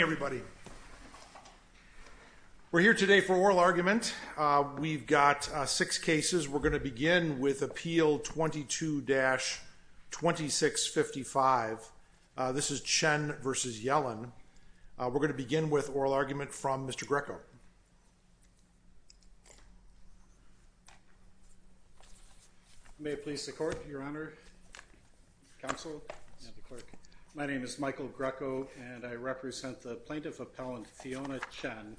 May it please the Court, Your Honor, Counsel, and the Clerk, my name is Michael Greco and I represent the plaintiff appellant Fiona Chen.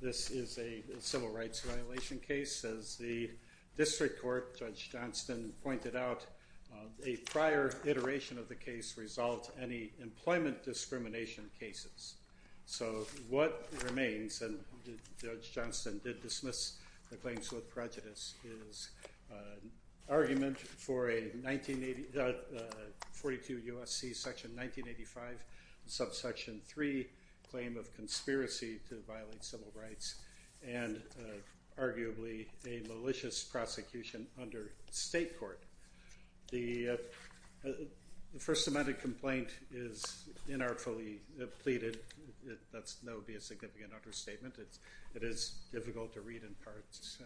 This is a civil rights violation case. As the District Court Judge Johnston pointed out, a prior iteration of the case resolved any employment discrimination cases. So what remains, and Judge Johnston did dismiss the claims with prejudice, is argument for a 42 U.S.C. section 1985 subsection 3 claim of conspiracy to violate civil rights and arguably a malicious prosecution under state court. The first amendment complaint is inartfully pleaded. That's no be a significant understatement. It is difficult to read in parts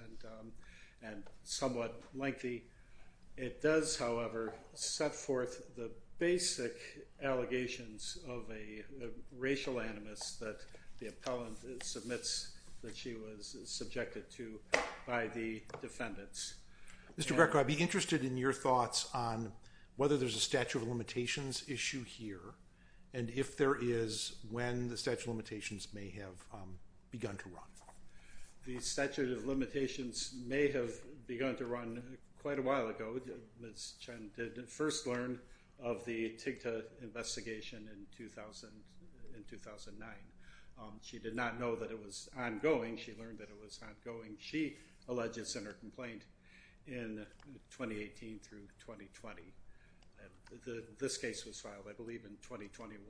and somewhat lengthy. It does however set forth the basic allegations of a racial animus that the appellant submits that she was subjected to by the defendants. Mr. Greco, I'd be interested in your thoughts on whether there's a statute of limitations issue here and if begun to run. The statute of limitations may have begun to run quite a while ago. Ms. Chen did first learn of the TIGTA investigation in 2000, in 2009. She did not know that it was ongoing. She learned that it was ongoing. She alleges in her complaint in 2018 through 2020. This case was filed I believe in 2021.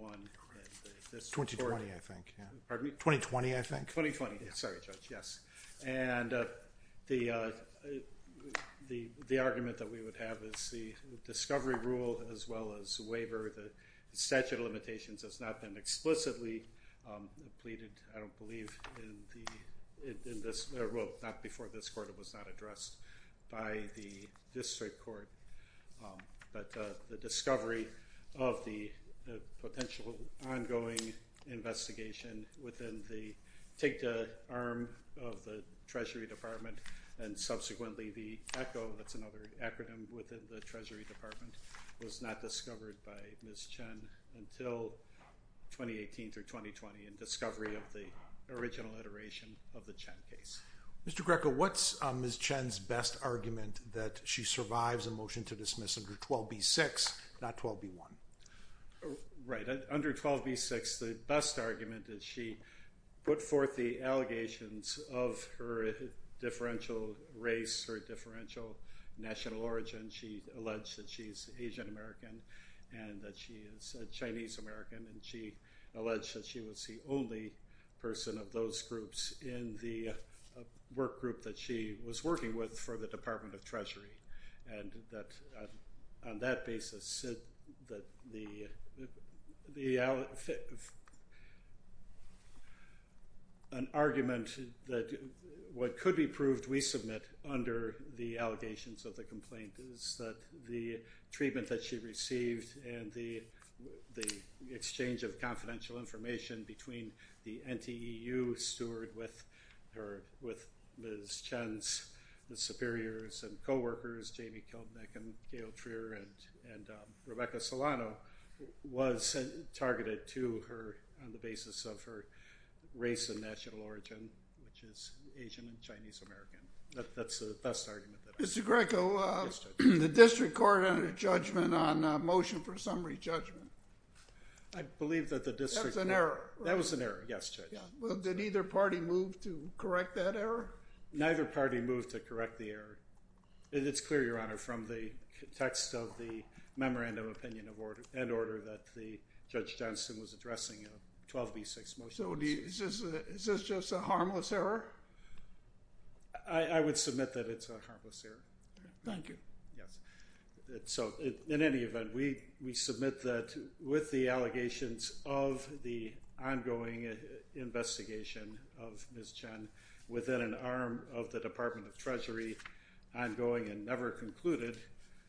2020 I think. 2020. Sorry, Judge. Yes. And the argument that we would have is the discovery rule as well as waiver. The statute of limitations has not been explicitly pleaded, I don't believe, in this. Well, not before this court. It was not addressed by the district court. But the discovery of the potential ongoing investigation within the TIGTA arm of the Treasury Department and subsequently the ECHO, that's another acronym within the Treasury Department, was not discovered by Ms. Chen until 2018 through 2020 and discovery of the original iteration of the Chen case. Mr. Greco, what's Ms. Chen's best argument that she survives a motion to dismiss under 12b-6 not 12b-1? Right, under 12b-6 the best argument is she put forth the allegations of her differential race or differential national origin. She alleged that she's Asian American and that she is a Chinese American and she alleged that she was the only person of those groups in the work group that she was working with for the Department of Education. An argument that what could be proved we submit under the allegations of the complaint is that the treatment that she received and the exchange of confidential information between the NTEU steward with Ms. Chen's superiors and co-workers, Jamie Kildnick and Gail Trier and Rebecca Solano, was targeted to her on the basis of her race and national origin, which is Asian and Chinese American. That's the best argument. Mr. Greco, the district court had a judgment on motion for summary judgment. I believe that the district... That was an error. That was an error, yes Judge. Well did either party move to correct that error? Neither party moved to correct the error. It's clear, Your Honor, from the text of the memorandum of opinion and order that the Judge Johnston was addressing a 12B6 motion. So is this just a harmless error? I would submit that it's a harmless error. Thank you. Yes. So in any event, we submit that with the allegations of the ongoing investigation of Ms. Chen within an arm of the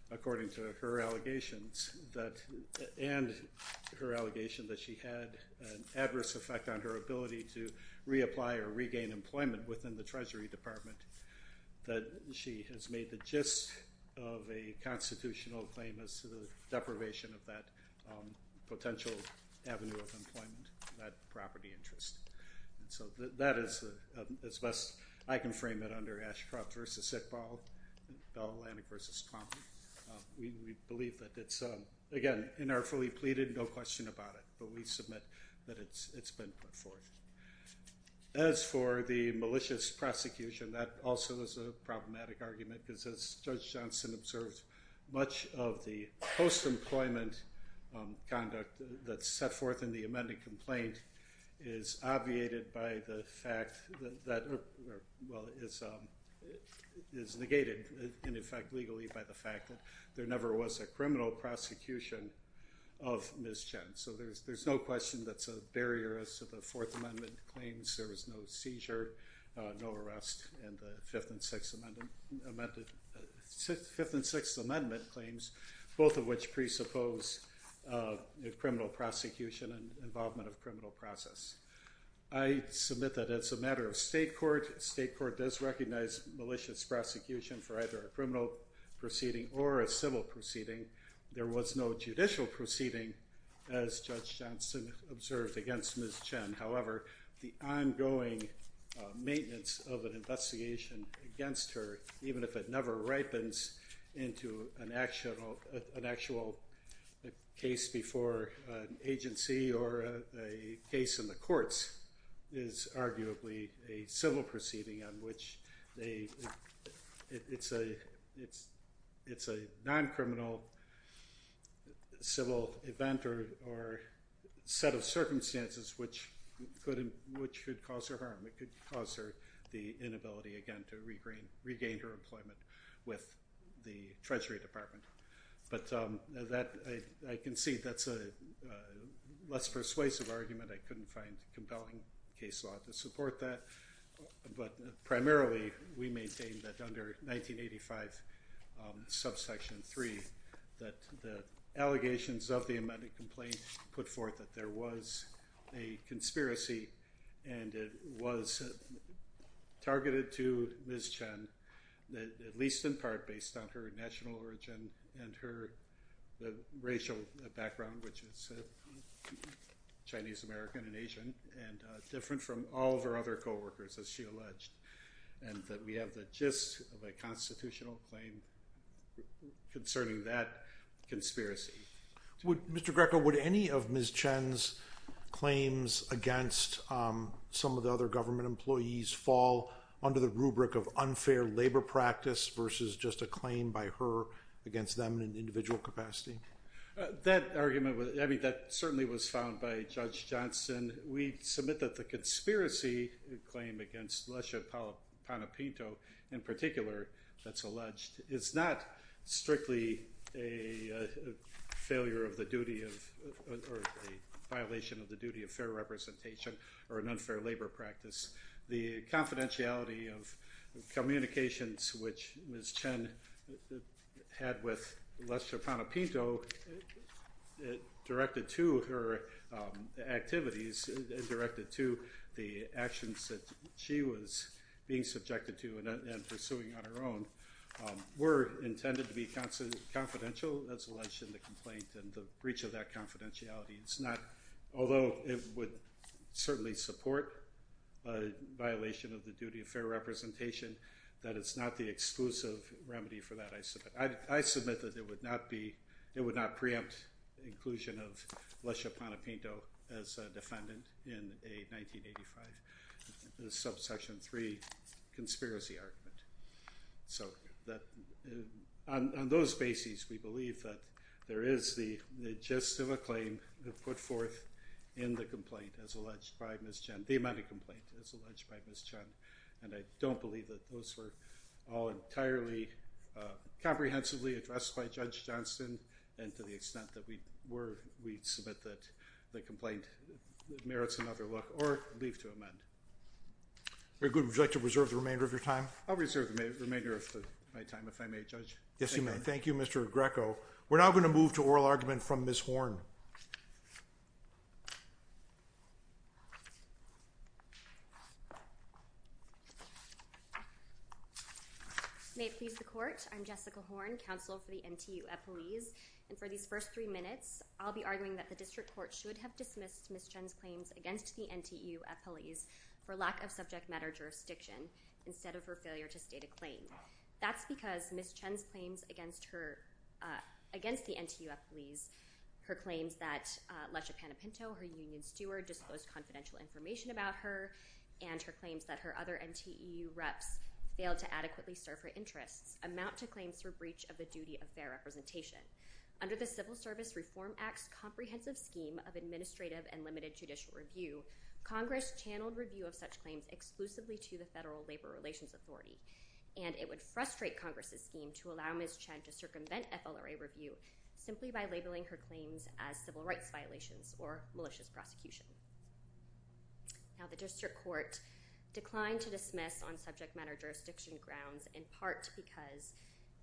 According to her allegations, and her allegation that she had an adverse effect on her ability to reapply or regain employment within the Treasury Department, that she has made the gist of a constitutional claim as to the deprivation of that potential avenue of employment, that property interest. So that is as best I can frame it under Ashcroft versus Sitball, Bell Atlantic versus Plum. We believe that it's, again, in our fully pleaded, no question about it, but we submit that it's been put forth. As for the malicious prosecution, that also is a problematic argument because as Judge Johnston observes, much of the post-employment conduct that's set forth in the amended complaint is obviated by the fact that, well, is negated, in effect, legally by the fact that there never was a criminal prosecution of Ms. Chen. So there's no question that's a barrier as to the Fourth Amendment claims. There was no seizure, no arrest, and the Fifth and Sixth Amendment claims, both of which presuppose a criminal prosecution and involvement of criminal process. I submit that it's a matter of state court. State court does recognize malicious prosecution for either a criminal proceeding or a civil proceeding. There was no judicial proceeding, as Judge Johnston observed, against Ms. Chen. However, the ongoing maintenance of an investigation against her, even if it never ripens into an actual case before an agency or a case in the courts, is arguably a civil proceeding on which it's a non-criminal civil event or set of circumstances which could cause her harm. It could cause her the inability, again, to regain her life. So that's a less persuasive argument. I couldn't find compelling case law to support that, but primarily we maintain that under 1985, subsection 3, that the allegations of the amended complaint put forth that there was a conspiracy and it was targeted to Ms. Chen, at least in part based on her national origin and her racial background, which is Chinese-American and Asian and different from all of her other co-workers, as she alleged, and that we have the gist of a constitutional claim concerning that conspiracy. Mr. Greco, would any of Ms. Chen's claims against some of the other government employees fall under the rubric of unfair labor practice versus just a claim by her against them in an unfair labor practice? That argument, I mean, that certainly was found by Judge Johnson. We submit that the conspiracy claim against Lesha Panepinto, in particular, that's alleged, is not strictly a failure of the duty of, or a violation of the duty of fair representation or an unfair labor practice. The confidentiality of directed to her activities, directed to the actions that she was being subjected to and pursuing on her own, were intended to be confidential, that's alleged in the complaint, and the breach of that confidentiality, it's not, although it would certainly support a violation of the duty of fair representation, that it's not the exclusive remedy for that. I submit that it would not be, it would not preempt inclusion of Lesha Panepinto as a defendant in a 1985 subsection 3 conspiracy argument. So that, on those bases, we believe that there is the gist of a claim put forth in the complaint as alleged by Ms. Chen, the amended complaint as alleged by Ms. Chen, and I don't believe that those were all entirely comprehensively addressed by Judge Johnson, and to the extent that we were, we submit that the complaint merits another look or leave to amend. Very good. Would you like to reserve the remainder of your time? I'll reserve the remainder of my time if I may, Judge. Yes, you may. Thank you, Mr. Greco. We're now going to move to oral argument from Ms. Horne. May it please the court, I'm Jessica Horne, counsel for the NTU at Police, and for these first three minutes, I'll be arguing that the district court should have dismissed Ms. Chen's claims against the NTU at Police for lack of subject matter jurisdiction, instead of her failure to state a claim. That's because Ms. Chen's claims against the NTU at Police, her claims that Lesha Panepinto, her union steward, disposed confidential information about her, and her claims that her other NTEU reps failed to adequately serve her interests, amount to claims for breach of the duty of fair representation. Under the Civil Service Reform Act's comprehensive scheme of administrative and limited judicial review, Congress channeled review of such claims exclusively to the Federal Labor Relations Authority, and it would frustrate Congress's scheme to allow Ms. Chen to circumvent FLRA review simply by labeling her claims as civil rights violations or malicious prosecution. Now the district court declined to dismiss on subject matter jurisdiction grounds in part because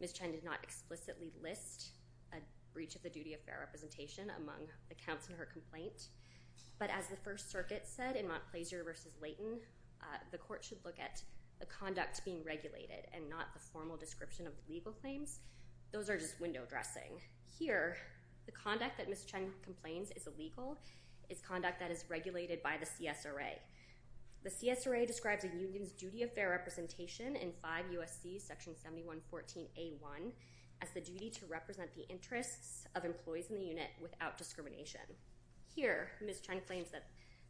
Ms. Chen did not explicitly list a breach of the duty of fair representation among the counts in her complaint, but as the First Circuit said in Montplaisir v. Layton, the court should look at the conduct being regulated and not the formal description of legal claims. Those are just window dressing. Here, the conduct that Ms. Chen complains is illegal. It's conduct that is regulated by the CSRA. The CSRA describes a union's duty of fair representation in 5 U.S.C. section 7114a.1 as the duty to represent the interests of employees in the unit without discrimination. Here, Ms. Chen claims that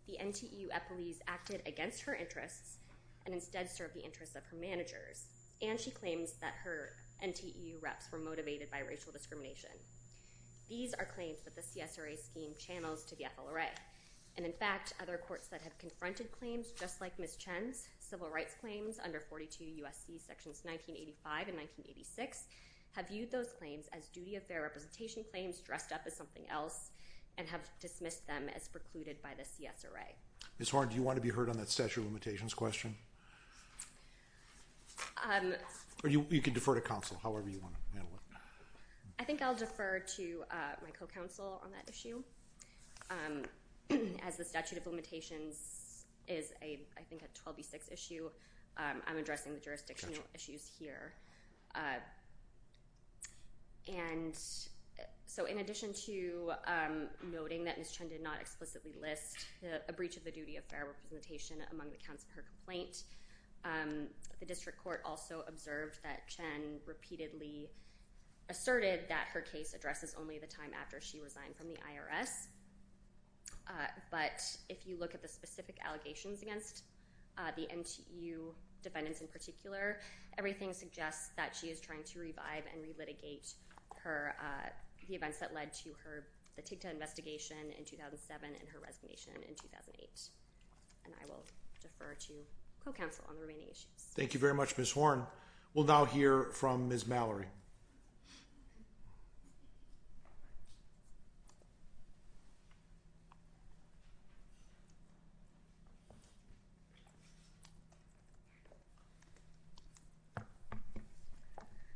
the NTU at Police acted against her interests and instead served the interests of her managers, and she claims that her NTU reps were motivated by racial discrimination. These are claims that the CSRA scheme channels to the FLRA, and in fact other courts that have confronted claims just like Ms. Chen's civil rights claims under 42 U.S.C. sections 1985 and 1986 have viewed those claims as duty of fair representation claims dressed up as something else and have dismissed them as precluded by the CSRA. Ms. Horne, do you want to comment? You can defer to counsel, however you want to handle it. I think I'll defer to my co-counsel on that issue as the statute of limitations is a I think a 12b6 issue. I'm addressing the jurisdictional issues here, and so in addition to noting that Ms. Chen did not explicitly list a breach of the duty of fair representation among the counts of her complaint, the district court also observed that Chen repeatedly asserted that her case addresses only the time after she resigned from the IRS, but if you look at the specific allegations against the NTU defendants in particular, everything suggests that she is trying to revive and relitigate her the events that led to her the TICTA investigation in 2007 and her resignation in 2008, and I will defer to co-counsel on the remaining issues. Thank you very much, Ms. Horne. We'll now hear from Ms. Mallory.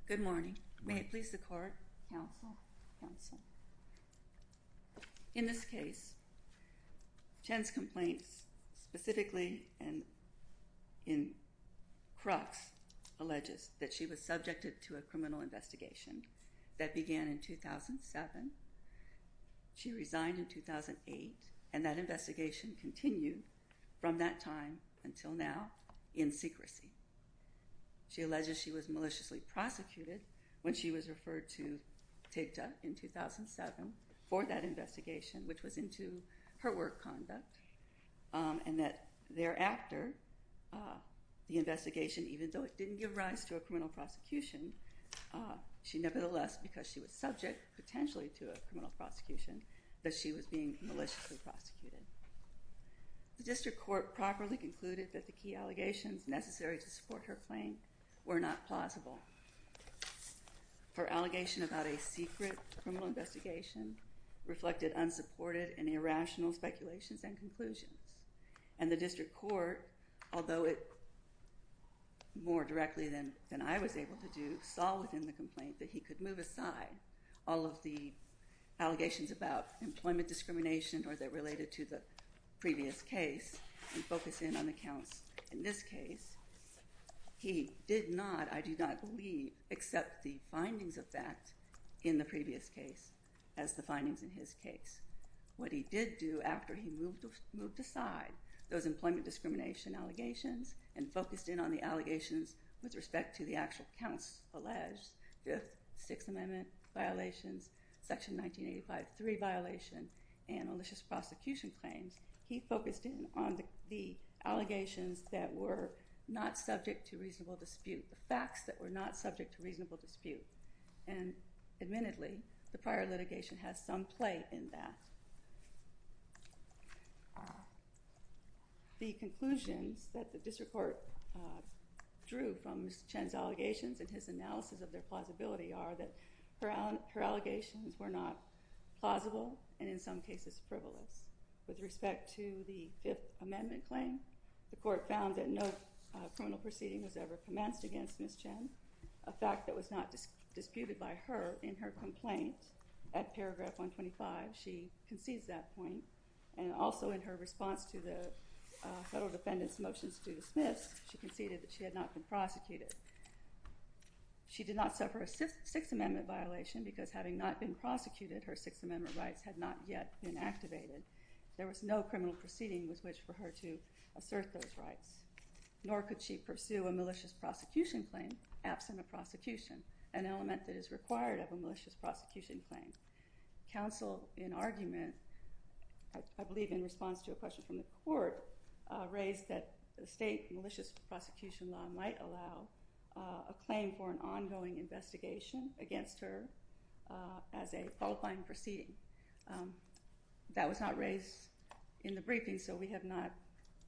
Good morning. May it please the court? Counsel? Counsel? In this case, Chen's complaints specifically in crux alleges that she was subjected to a criminal investigation that began in 2007. She resigned in 2008, and that investigation continued from that time until now in secrecy. She alleges she was maliciously prosecuted when she was referred to TICTA in 2007 for that investigation, which was into her work conduct, and that thereafter, the investigation, even though it didn't give rise to a criminal prosecution, she nevertheless, because she was subject potentially to a criminal prosecution, that she was being maliciously prosecuted. The district court properly concluded that the key allegations necessary to support her claim were not plausible. Her allegation about a secret criminal investigation reflected unsupported and irrational speculations and conclusions, and the district court, although it more directly than I was able to do, saw within the complaint that he could move aside all of the allegations about employment discrimination or that related to the previous case and focus in on the counts in this case. He did not, I do not believe, accept the findings of this act in the previous case as the findings in his case. What he did do after he moved aside those employment discrimination allegations and focused in on the allegations with respect to the actual counts alleged, Fifth, Sixth Amendment violations, Section 1985, 3 violation, and malicious prosecution claims, he focused in on the allegations that were not subject to reasonable dispute, and admittedly the prior litigation has some play in that. The conclusions that the district court drew from Ms. Chen's allegations and his analysis of their plausibility are that her allegations were not plausible and in some cases frivolous. With respect to the Fifth Amendment claim, the court found that no criminal proceeding was ever commenced against Ms. Chen, a fact that was not disputed by her in her complaint at paragraph 125. She concedes that point and also in her response to the federal defendants motions to dismiss, she conceded that she had not been prosecuted. She did not suffer a Sixth Amendment violation because having not been prosecuted, her Sixth Amendment rights had not yet been activated. There was no criminal proceeding with which for her to assert those rights, nor could she pursue a claim absent a prosecution, an element that is required of a malicious prosecution claim. Counsel, in argument, I believe in response to a question from the court, raised that the state malicious prosecution law might allow a claim for an ongoing investigation against her as a qualifying proceeding. That was not raised in the briefing, so we have not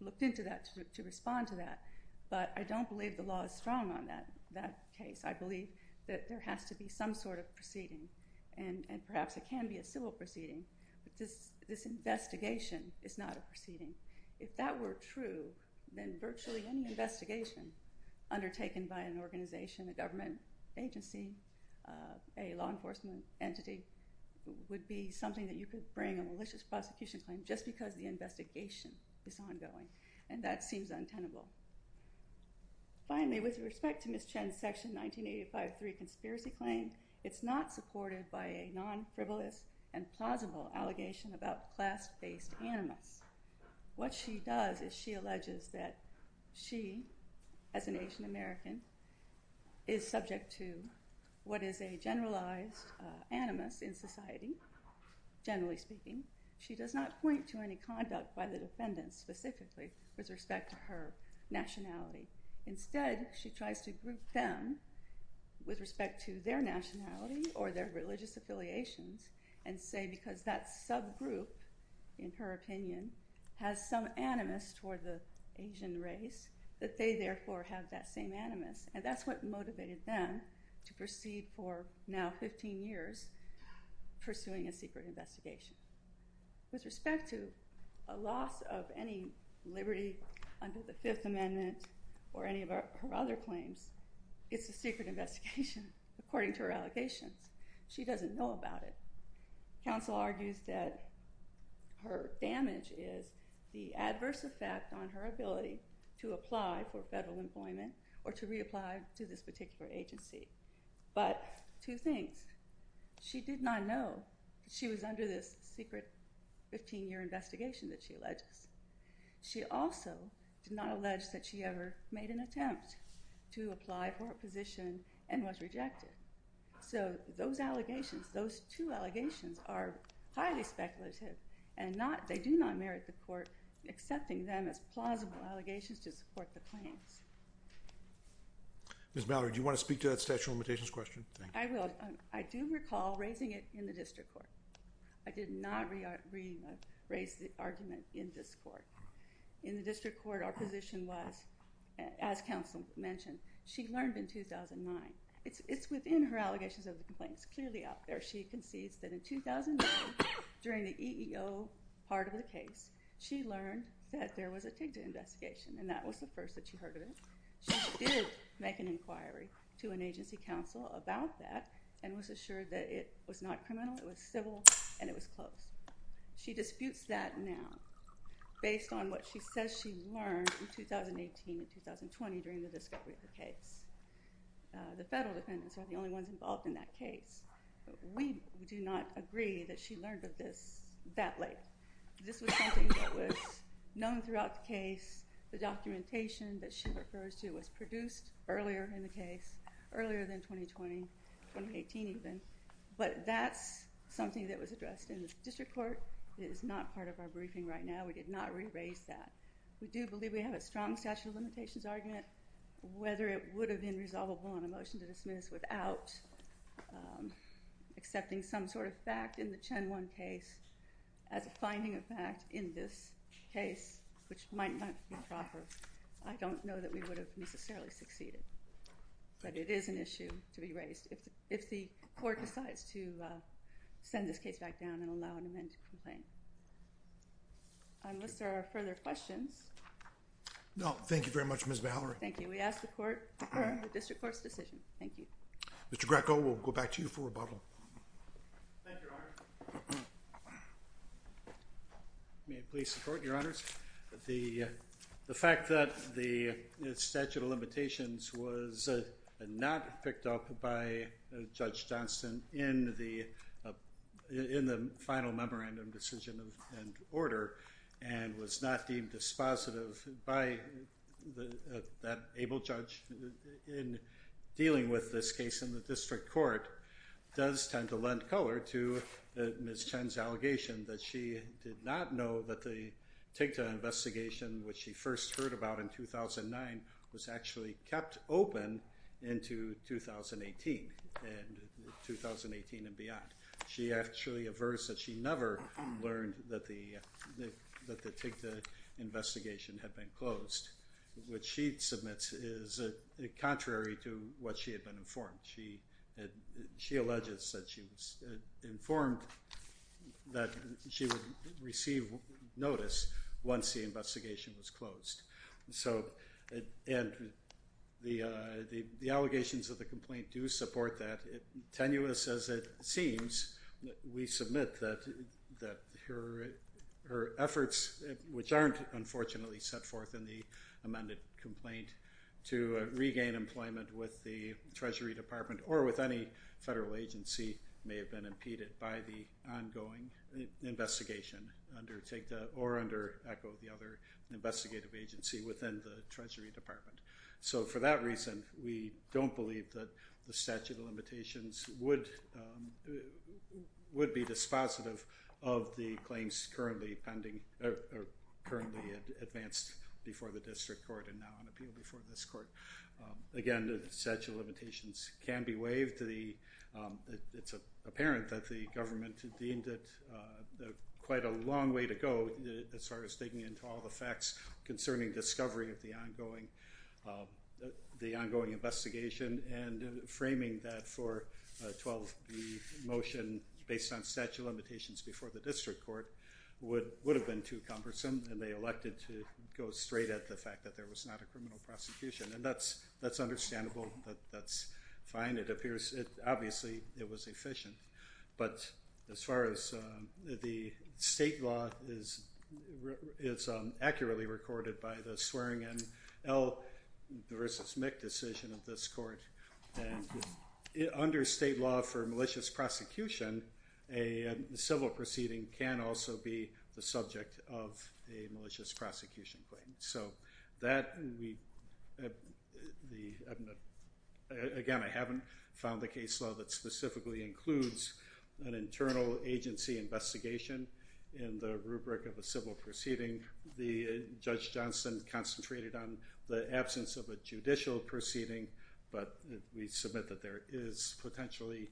looked into that to respond to that, but I don't believe the law is strong on that case. I believe that there has to be some sort of proceeding and perhaps it can be a civil proceeding, but this investigation is not a proceeding. If that were true, then virtually any investigation undertaken by an organization, a government agency, a law enforcement entity, would be something that you could bring a malicious prosecution claim just because the investigation is ongoing, and that seems untenable. Finally, with respect to Ms. Chen's Section 1985-3 Conspiracy Claim, it's not supported by a non-frivolous and plausible allegation about class-based animus. What she does is she alleges that she, as an Asian American, is subject to what is a generalized animus in society, generally speaking. She does not point to any conduct by the defendants specifically with respect to her nationality. Instead, she tries to group them with respect to their nationality or their religious affiliations and say because that subgroup, in her opinion, has some animus toward the Asian race that they therefore have that same animus, and that's what motivated them to proceed for now 15 years pursuing a secret investigation. With respect to a loss of any liberty under the Fifth Amendment or any of her other claims, it's a secret investigation according to her allegations. She doesn't know about it. Counsel argues that her damage is the adverse effect on her ability to apply for federal employment or to reapply to this particular agency, but two things. She did not know she was under this secret 15-year investigation that she also did not allege that she ever made an attempt to apply for a position and was rejected. So those allegations, those two allegations, are highly speculative and they do not merit the court accepting them as plausible allegations to support the claims. Ms. Mallory, do you want to speak to that statute of limitations question? I will. I do recall raising it in the district court. I did not raise the argument in this court. In the district court, our position was, as counsel mentioned, she learned in 2009. It's within her allegations of the complaints, clearly out there. She concedes that in 2009, during the EEO part of the case, she learned that there was a TIGTA investigation and that was the first that she heard of it. She did make an inquiry to an agency counsel about that and was assured that it was not criminal, it was civil, and it was closed. She disputes that now based on what she says she learned in 2018 and 2020 during the discovery of the case. The federal defendants are the only ones involved in that case. We do not agree that she learned of this that late. This was something that was known throughout the case. The documentation that she learned in 2020, 2018 even, but that's something that was addressed in the district court. It is not part of our briefing right now. We did not re-raise that. We do believe we have a strong statute of limitations argument. Whether it would have been resolvable on a motion to dismiss without accepting some sort of fact in the Chen-Wen case as a finding of fact in this case, which might not be proper. I don't know that we would have necessarily succeeded, but it is an issue to be raised if the court decides to send this case back down and allow an amendment to complain. Unless there are further questions. No, thank you very much Ms. Mallory. Thank you. We ask the court to defer the district court's decision. Thank you. Mr. Greco, we'll go back to you for rebuttal. May I please support, your honors? The fact that the statute of limitations was not picked up by Judge Johnston in the final memorandum decision and order and was not deemed dispositive by that able judge in dealing with this case in the district court does tend to lend color to Ms. Chen's allegation that she did not know that the TIGTA investigation, which she first heard about in 2009, was actually kept open into 2018 and beyond. She actually averts that she never learned that the TIGTA investigation had been closed, which she submits is a contrary to what she had been informed. She alleges that she was informed that she would receive notice once the and the allegations of the complaint do support that. Tenuous as it seems, we submit that her efforts, which aren't unfortunately set forth in the amended complaint, to regain employment with the Treasury Department or with any federal agency may have been impeded by the ongoing investigation under TIGTA or under, echo the other, investigative agency within the Treasury Department. So for that reason, we don't believe that the statute of limitations would be dispositive of the claims currently advanced before the district court and now on appeal before this court. Again, the statute of limitations can be waived. It's apparent that the government deemed it quite a long way to go as far as digging into all the facts concerning discovery of the ongoing investigation and framing that for 12B motion based on statute of limitations before the district court would have been too cumbersome and they elected to go straight at the fact that there was not a criminal prosecution and that's understandable, that's fine, it appears obviously it was efficient, but as far as the state law, it's accurately recorded by the Swearingen versus Mick decision of this court and under state law for malicious prosecution, a civil proceeding can also be the subject of a case law that specifically includes an internal agency investigation in the rubric of a civil proceeding. The Judge Johnson concentrated on the absence of a judicial proceeding, but we submit that there is potentially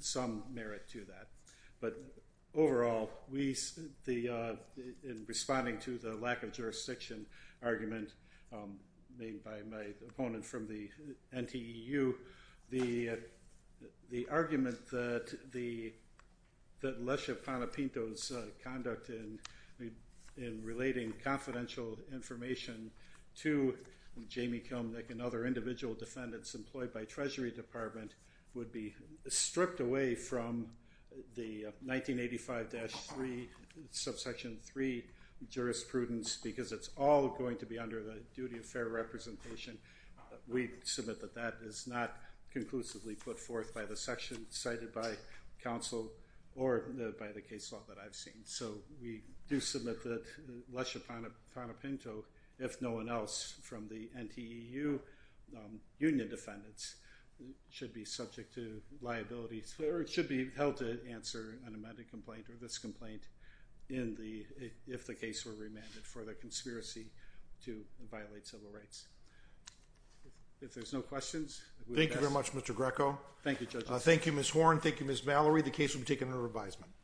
some merit to that. But overall, in responding to the lack of jurisdiction argument made by my subsection 2, the argument that Lesha Panepinto's conduct in relating confidential information to Jamie Kilmnik and other individual defendants employed by Treasury Department would be stripped away from the 1985-3 subsection 3 jurisprudence because it's all going to be under the duty of fair representation, we submit that that is not conclusively put forth by the section cited by counsel or by the case law that I've seen. So we do submit that Lesha Panepinto, if no one else from the NTEU union defendants, should be subject to liabilities or should be held to answer an amended complaint or this complaint if the case were remanded for the conspiracy to violate civil rights. If there's no questions... Thank you very much Mr. Greco. Thank you judges. Thank you Ms. Horne. Thank you Ms. Mallory. The case will be taken under revisement.